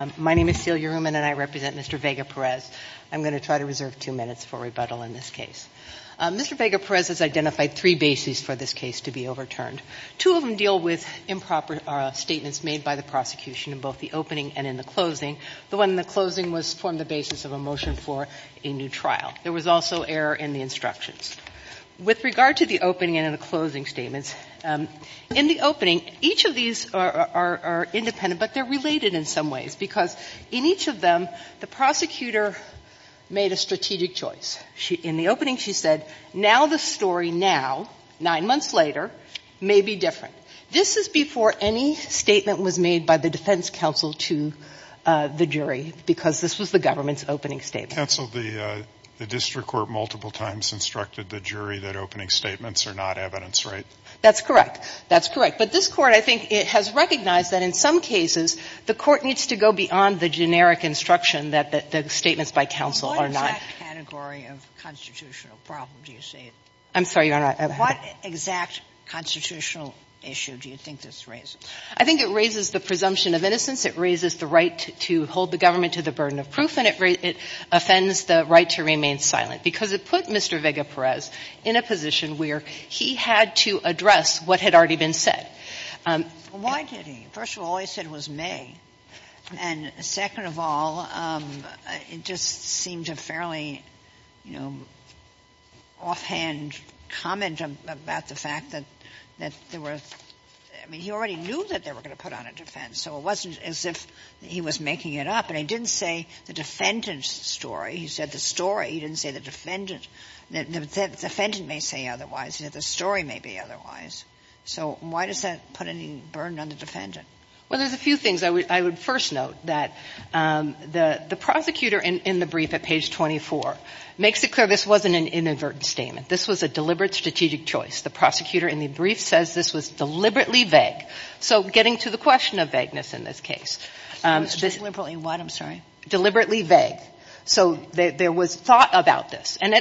and I represent Mr. Vega-Perez. I'm going to try to reserve two minutes for rebuttal in this case. Mr. Vega-Perez has identified three bases for this case to be overturned. Two of them deal with improper statements made by the prosecution in both the opening and in the closing. The one in the closing was formed the basis of a motion for a new trial. There was also error in the instructions. With regard to the opening and in the closing statements, in the opening, each of these are independent, but they're related in some ways, because in each of them, the prosecutor made a strategic choice. In the opening, she said, now the story now, nine months later, may be different. This is before any statement was made by the defense counsel to the jury, because this was the government's opening statement. The district court multiple times instructed the jury that opening statements are not evidence, right? That's correct. That's correct. But this Court, I think, has recognized that in some cases, the Court needs to go beyond the generic instruction that the statements by counsel are not. Sotomayor, what exact category of constitutional problem do you see? I'm sorry, Your Honor. What exact constitutional issue do you think this raises? I think it raises the presumption of innocence. It raises the right to hold the government to the burden of proof. And it offends the right to remain silent, because it put Mr. Vega-Perez in a position where he had to address what had already been said. Well, why did he? First of all, he said it was May. And second of all, it just seemed a fairly, you know, offhand comment about the fact that there were – I mean, he already knew that they were going to put on a defense, so it wasn't as if he was making it up. And he didn't say the defendant's story. He said the story. He didn't say the defendant. The defendant may say otherwise. The story may be otherwise. So why does that put any burden on the defendant? Well, there's a few things I would first note, that the prosecutor in the brief at page 24 makes it clear this wasn't an inadvertent statement. This was a deliberate strategic choice. The prosecutor in the brief says this was deliberately vague. So getting to the question of vagueness in this case. Deliberately what, I'm sorry? Deliberately vague. So there was thought about this. And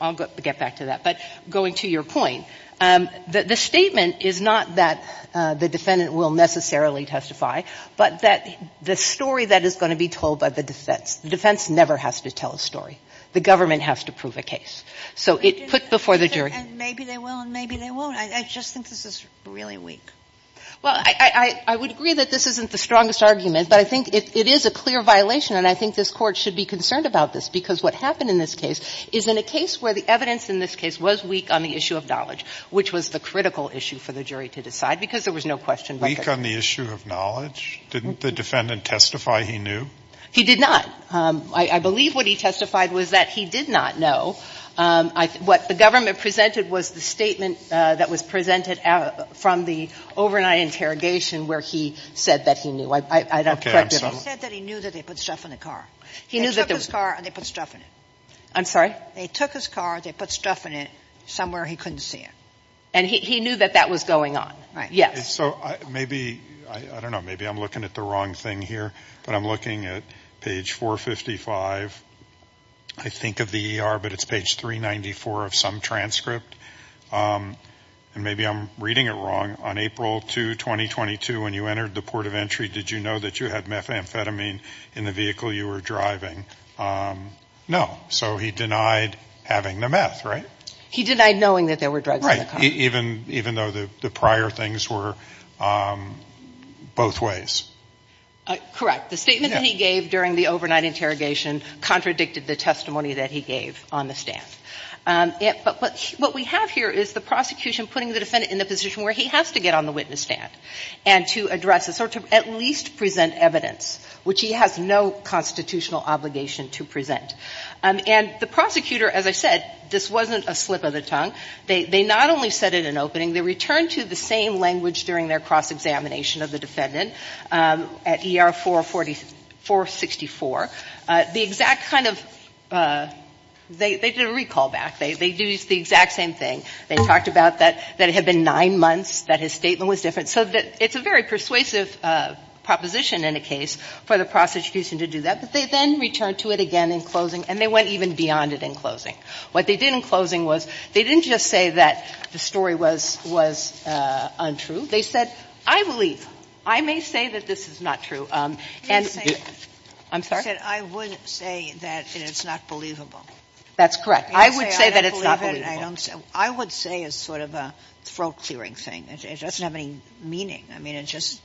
I'll get back to that. But going to your point, the statement is not that the defendant will necessarily testify, but that the story that is going to be told by the defense. The defense never has to tell a story. The government has to prove a case. So it put before the jury. And maybe they will and maybe they won't. I just think this is really weak. Well, I would agree that this isn't the strongest argument. But I think it is a clear violation. And I think this Court should be concerned about this. Because what happened in this case is in a case where the evidence in this case was weak on the issue of knowledge, which was the critical issue for the jury to decide. Because there was no question. Weak on the issue of knowledge? Didn't the defendant testify he knew? He did not. I believe what he testified was that he did not know. What the government presented was the statement that was presented from the overnight interrogation where he said that he knew. He said that he knew that they put stuff in the car. They took his car and they put stuff in it. I'm sorry? They took his car, they put stuff in it somewhere he couldn't see it. And he knew that that was going on. Right. Yes. So maybe, I don't know, maybe I'm looking at the wrong thing here. But I'm looking at page 455, I think of the ER, but it's page 394 of some transcript. And maybe I'm reading it wrong. On April 2, 2022, when you entered the port of entry, did you know that you had methamphetamine in the vehicle you were driving? No. So he denied having the meth, right? He denied knowing that there were drugs in the car. Right. Even though the prior things were both ways. Correct. The statement that he gave during the overnight interrogation contradicted the testimony that he gave on the stand. But what we have here is the prosecution putting the defendant in the position where he has to get on the witness stand and to address this, or to at least present evidence, which he has no constitutional obligation to present. And the prosecutor, as I said, this wasn't a slip of the tongue. They not only said it in opening, they returned to the same language during their cross-examination of the defendant at ER 464. The exact kind of they did a recall back. They do the exact same thing. They talked about that it had been nine months, that his statement was different. So it's a very persuasive proposition in a case for the prosecution to do that. But they then returned to it again in closing, and they went even beyond it in closing. What they did in closing was they didn't just say that the story was untrue. They said, I believe, I may say that this is not true. And I'm sorry? I would say that it's not believable. That's correct. I would say that it's not believable. I would say it's sort of a throat-clearing thing. It doesn't have any meaning. I mean, it just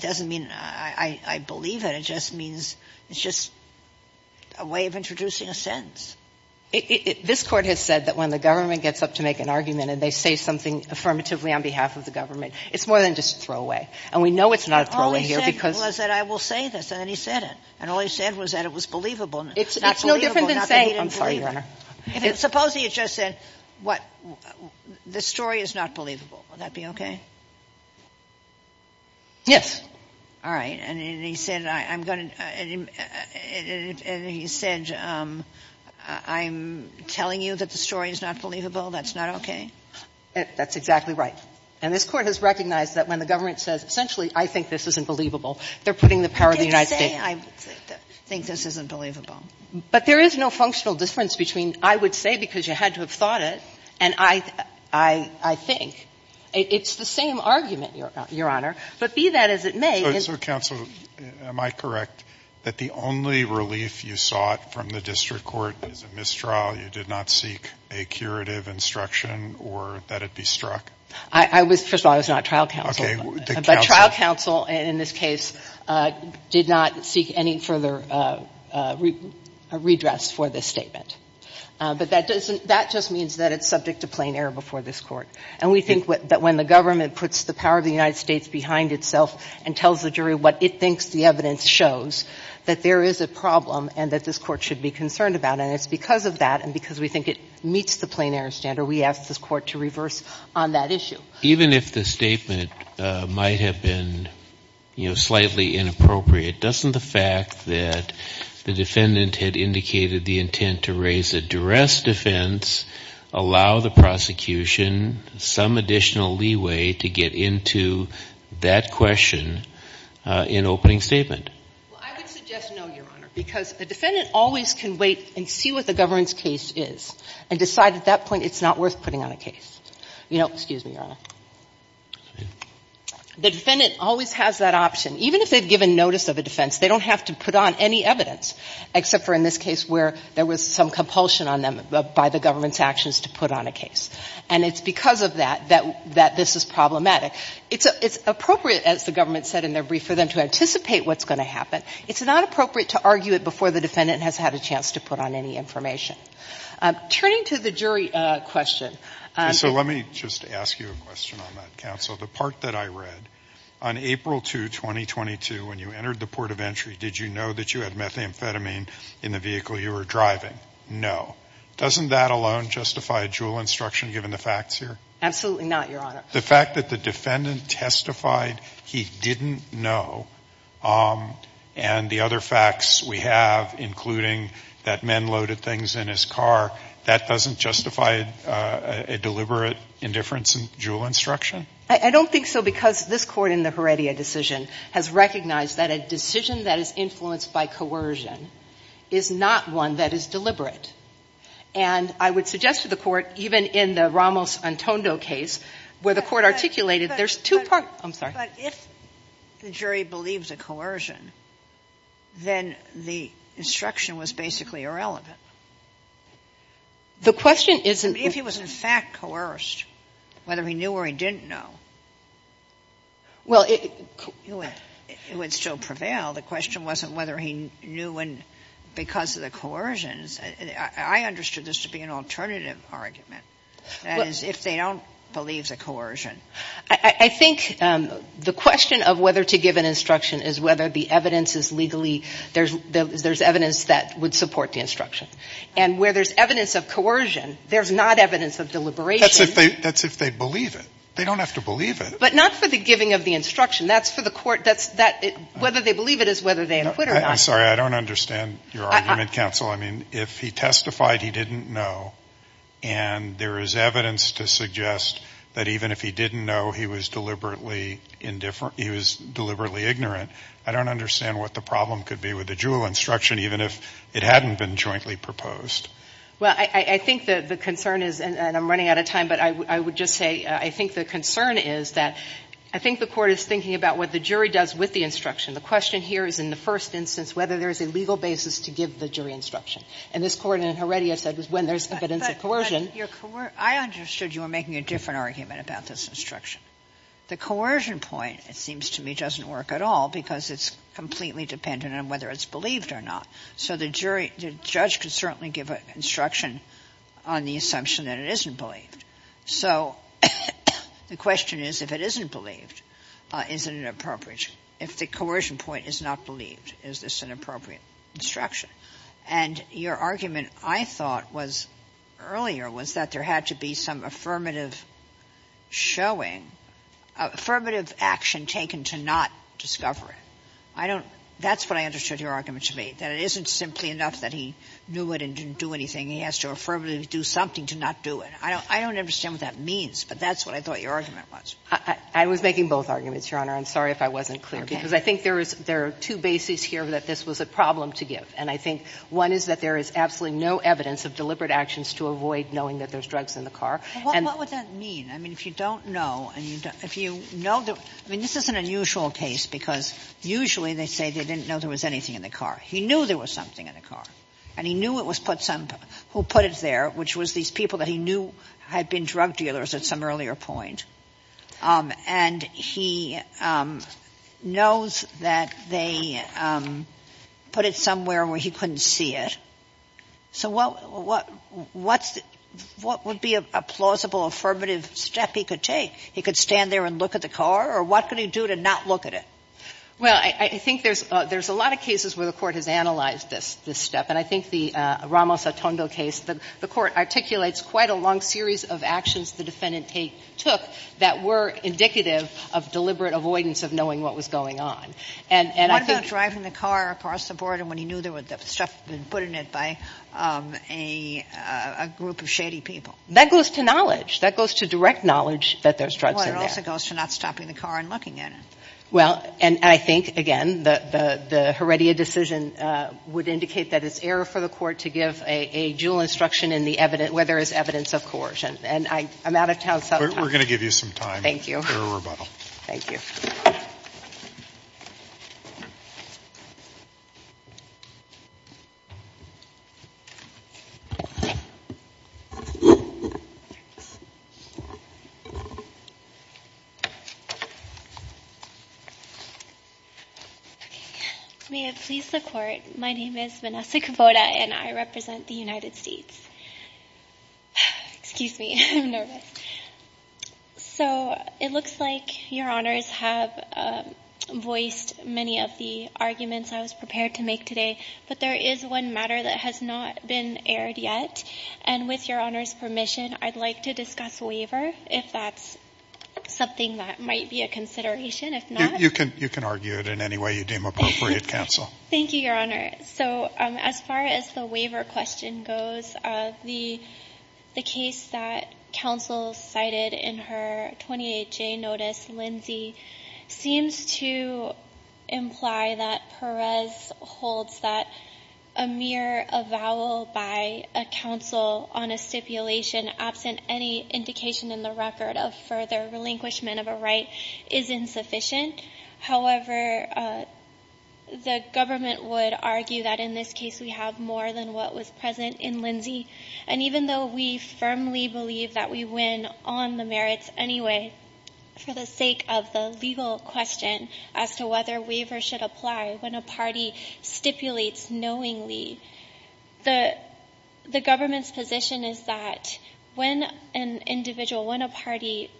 doesn't mean I believe it. It just means it's just a way of introducing a sentence. This Court has said that when the government gets up to make an argument and they say something affirmatively on behalf of the government, it's more than just a throwaway. And we know it's not a throwaway here because — All he said was that I will say this, and then he said it. And all he said was that it was believable. It's no different than saying — I'm sorry, Your Honor. Supposing he just said, what, the story is not believable. Would that be okay? Yes. All right. And he said, I'm going to — and he said, I'm telling you that the story is not believable. That's not okay? That's exactly right. And this Court has recognized that when the government says, essentially, I think this isn't believable, they're putting the power of the United States — He didn't say, I think this isn't believable. But there is no functional difference between, I would say because you had to have thought it, and I think. It's the same argument, Your Honor. But be that as it may — So, Counsel, am I correct that the only relief you sought from the district court is a mistrial? You did not seek a curative instruction or that it be struck? I was — first of all, I was not trial counsel. Okay. The counsel — But trial counsel, in this case, did not seek any further redress for this statement. But that doesn't — that just means that it's subject to plain error before this Court. And we think that when the government puts the power of the United States behind itself and tells the jury what it thinks the evidence shows, that there is a problem and that this Court should be concerned about. And it's because of that and because we think it meets the plain error standard we asked this Court to reverse on that issue. Even if the statement might have been, you know, slightly inappropriate, doesn't the fact that the defendant had indicated the intent to raise a duress defense allow the prosecution some additional leeway to get into that question in opening statement? Well, I would suggest no, Your Honor, because a defendant always can wait and see what the governance case is and decide at that point it's not worth putting on a case. You know — excuse me, Your Honor. The defendant always has that option. Even if they've given notice of a defense, they don't have to put on any evidence except for in this case where there was some compulsion on them by the government's actions to put on a case. And it's because of that that this is problematic. It's appropriate, as the government said in their brief, for them to anticipate what's going to happen. It's not appropriate to argue it before the defendant has had a chance to put on any information. Turning to the jury question — So let me just ask you a question on that, counsel. The part that I read, on April 2, 2022, when you entered the port of entry, did you know that you had methamphetamine in the vehicle you were driving? No. Doesn't that alone justify a juul instruction, given the facts here? Absolutely not, Your Honor. The fact that the defendant testified he didn't know, and the other facts we have, including that men loaded things in his car, that doesn't justify a deliberate indifference in juul instruction? I don't think so, because this Court in the Heredia decision has recognized that a deliberate indifference by coercion is not one that is deliberate. And I would suggest to the Court, even in the Ramos-Antondo case, where the Court articulated, there's two parts. I'm sorry. But if the jury believes a coercion, then the instruction was basically irrelevant. The question isn't — I mean, if he was in fact coerced, whether he knew or he didn't know, it would still prevail. The question wasn't whether he knew because of the coercions. I understood this to be an alternative argument, that is, if they don't believe the coercion. I think the question of whether to give an instruction is whether the evidence is legally — there's evidence that would support the instruction. And where there's evidence of coercion, there's not evidence of deliberation. That's if they believe it. They don't have to believe it. But not for the giving of the instruction. That's for the Court — whether they believe it is whether they acquit or not. I'm sorry. I don't understand your argument, counsel. I mean, if he testified he didn't know, and there is evidence to suggest that even if he didn't know, he was deliberately — he was deliberately ignorant. I don't understand what the problem could be with the Jewell instruction, even if it hadn't been jointly proposed. Well, I think the concern is — and I'm running out of time, but I would just say I think the concern is that I think the Court is thinking about what the jury does with the instruction. The question here is, in the first instance, whether there is a legal basis to give the jury instruction. And this Court in Heredia said when there's evidence of coercion. But your — I understood you were making a different argument about this instruction. The coercion point, it seems to me, doesn't work at all because it's completely dependent on whether it's believed or not. So the jury — the judge could certainly give an instruction on the assumption that it isn't believed. So the question is, if it isn't believed, is it an appropriate — if the coercion point is not believed, is this an appropriate instruction? And your argument, I thought, was — earlier was that there had to be some affirmative showing — affirmative action taken to not discover it. I don't — that's what I understood your argument to be, that it isn't simply enough that he knew it and didn't do anything. He has to affirmatively do something to not do it. And I don't understand what that means, but that's what I thought your argument was. I was making both arguments, Your Honor. I'm sorry if I wasn't clear. Okay. Because I think there is — there are two bases here that this was a problem to give. And I think one is that there is absolutely no evidence of deliberate actions to avoid knowing that there's drugs in the car. What would that mean? I mean, if you don't know and you don't — if you know the — I mean, this is an unusual case because usually they say they didn't know there was anything in the car. He knew there was something in the car. And he knew it was put — who put it there, which was these people that he knew had been drug dealers at some earlier point. And he knows that they put it somewhere where he couldn't see it. So what would be a plausible affirmative step he could take? He could stand there and look at the car? Or what could he do to not look at it? Well, I think there's a lot of cases where the Court has analyzed this step. And I think the Ramos-Otondo case, the Court articulates quite a long series of actions the defendant took that were indicative of deliberate avoidance of knowing what was going on. And I think — What about driving the car across the border when he knew there was stuff put in it by a group of shady people? That goes to knowledge. That goes to direct knowledge that there's drugs in there. Well, it also goes to not stopping the car and looking at it. Well, and I think, again, the Heredia decision would indicate that it's error for the Court to give a dual instruction in the evidence — where there is evidence of coercion. And I'm out of town sometime. We're going to give you some time for a rebuttal. Thank you. Okay. May it please the Court, my name is Vanessa Cavoda, and I represent the United States. Excuse me. I'm nervous. So, it looks like Your Honors have voiced many of the arguments I was prepared to make today. But there is one matter that has not been aired yet. And with Your Honors' permission, I'd like to discuss waiver, if that's something that — You can argue it in any way you deem appropriate, Counsel. Thank you, Your Honor. So, as far as the waiver question goes, the case that Counsel cited in her 28-J notice, Lindsay, seems to imply that Perez holds that a mere avowal by a Counsel on a stipulation absent any indication in the record of further relinquishment of a right is insufficient. However, the government would argue that in this case we have more than what was present in Lindsay. And even though we firmly believe that we win on the merits anyway, for the sake of the legal question as to whether waiver should apply when a party stipulates knowingly, the government's position is that when an individual, when a party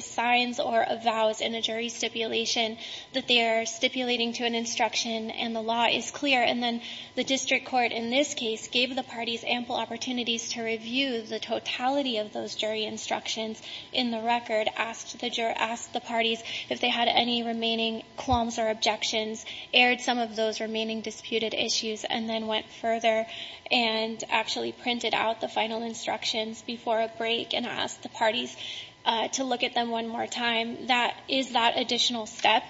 signs or avows in a jury stipulation that they are stipulating to an instruction and the law is clear, and then the district court in this case gave the parties ample opportunities to review the totality of those jury instructions in the record, asked the parties if they had any remaining qualms or objections, aired some of those remaining disputed issues, and then went further and actually printed out the final instructions before a break and asked the parties to look at them one more time. That is that additional step.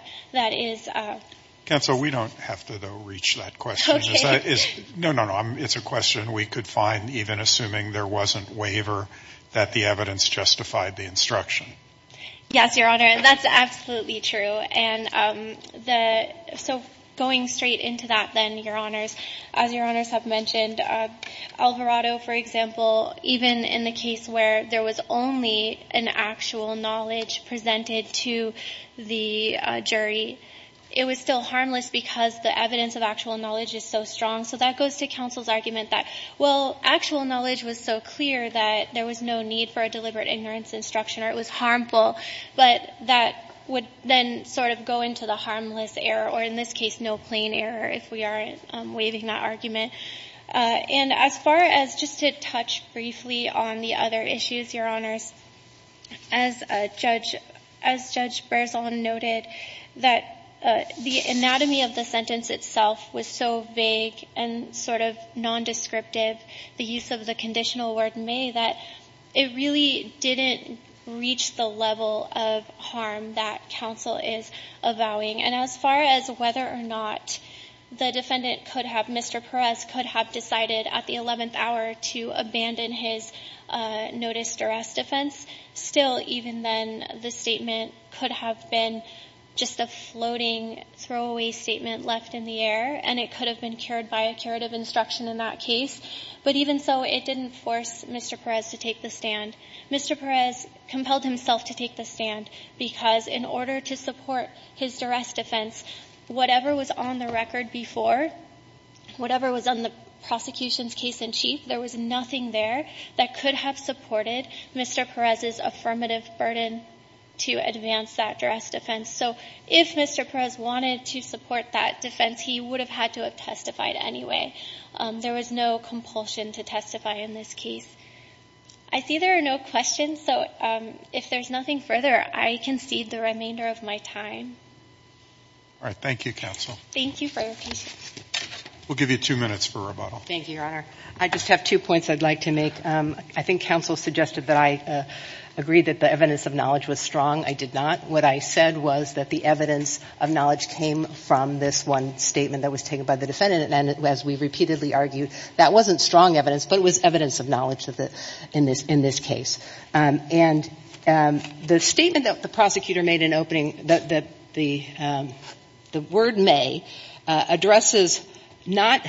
Counsel, we don't have to, though, reach that question. Okay. No, no, no. It's a question we could find even assuming there wasn't waiver that the evidence justified the instruction. Yes, Your Honor. That's absolutely true. So going straight into that then, Your Honors, as Your Honors have mentioned, Alvarado, for example, even in the case where there was only an actual knowledge presented to the jury, it was still harmless because the evidence of actual knowledge is so strong. So that goes to counsel's argument that, well, actual knowledge was so clear that there was no need for a deliberate ignorance instruction or it was harmful, but that would then sort of go into the harmless error, or in this case, no plain error, if we are waiving that argument. And as far as just to touch briefly on the other issues, Your Honors, as Judge Berzon noted, that the anatomy of the sentence itself was so vague and sort of nondescriptive, the use of the conditional word may, that it really didn't reach the level of harm that counsel is avowing. And as far as whether or not the defendant could have, Mr. Perez, could have decided at the 11th hour to abandon his noticed arrest defense, still, even then, the statement could have been just a floating throwaway statement left in the air, and it could have been carried by a curative instruction in that case. But even so, it didn't force Mr. Perez to take the stand. Mr. Perez compelled himself to take the stand because in order to support his addressed defense, whatever was on the record before, whatever was on the prosecution's case in chief, there was nothing there that could have supported Mr. Perez's affirmative burden to advance that addressed defense. So if Mr. Perez wanted to support that defense, he would have had to have testified anyway. There was no compulsion to testify in this case. I see there are no questions. So if there's nothing further, I concede the remainder of my time. All right. Thank you, counsel. Thank you for your patience. We'll give you two minutes for rebuttal. Thank you, Your Honor. I just have two points I'd like to make. I think counsel suggested that I agree that the evidence of knowledge was strong. I did not. What I said was that the evidence of knowledge came from this one statement that was taken by the defendant. And as we repeatedly argued, that wasn't strong evidence, but it was evidence of knowledge in this case. And the statement that the prosecutor made in opening, the word may, addresses not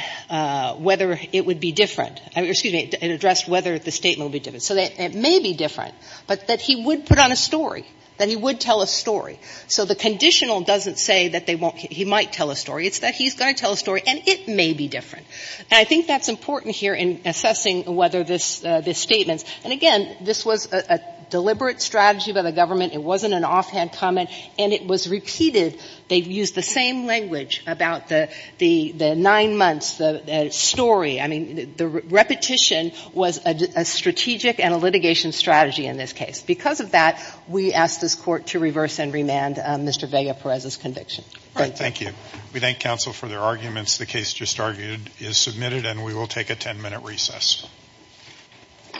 whether it would be different. Excuse me. It addressed whether the statement would be different. So it may be different, but that he would put on a story. That he would tell a story. So the conditional doesn't say that they won't – he might tell a story. It's that he's going to tell a story, and it may be different. And I think that's important here in assessing whether this statement's – and again, this was a deliberate strategy by the government. It wasn't an offhand comment. And it was repeated. They used the same language about the nine months, the story. I mean, the repetition was a strategic and a litigation strategy in this case. Because of that, we ask this Court to reverse and remand Mr. Vega-Perez's conviction. Thank you. We thank counsel for their arguments. The case just argued is submitted, and we will take a ten-minute recess. All rise.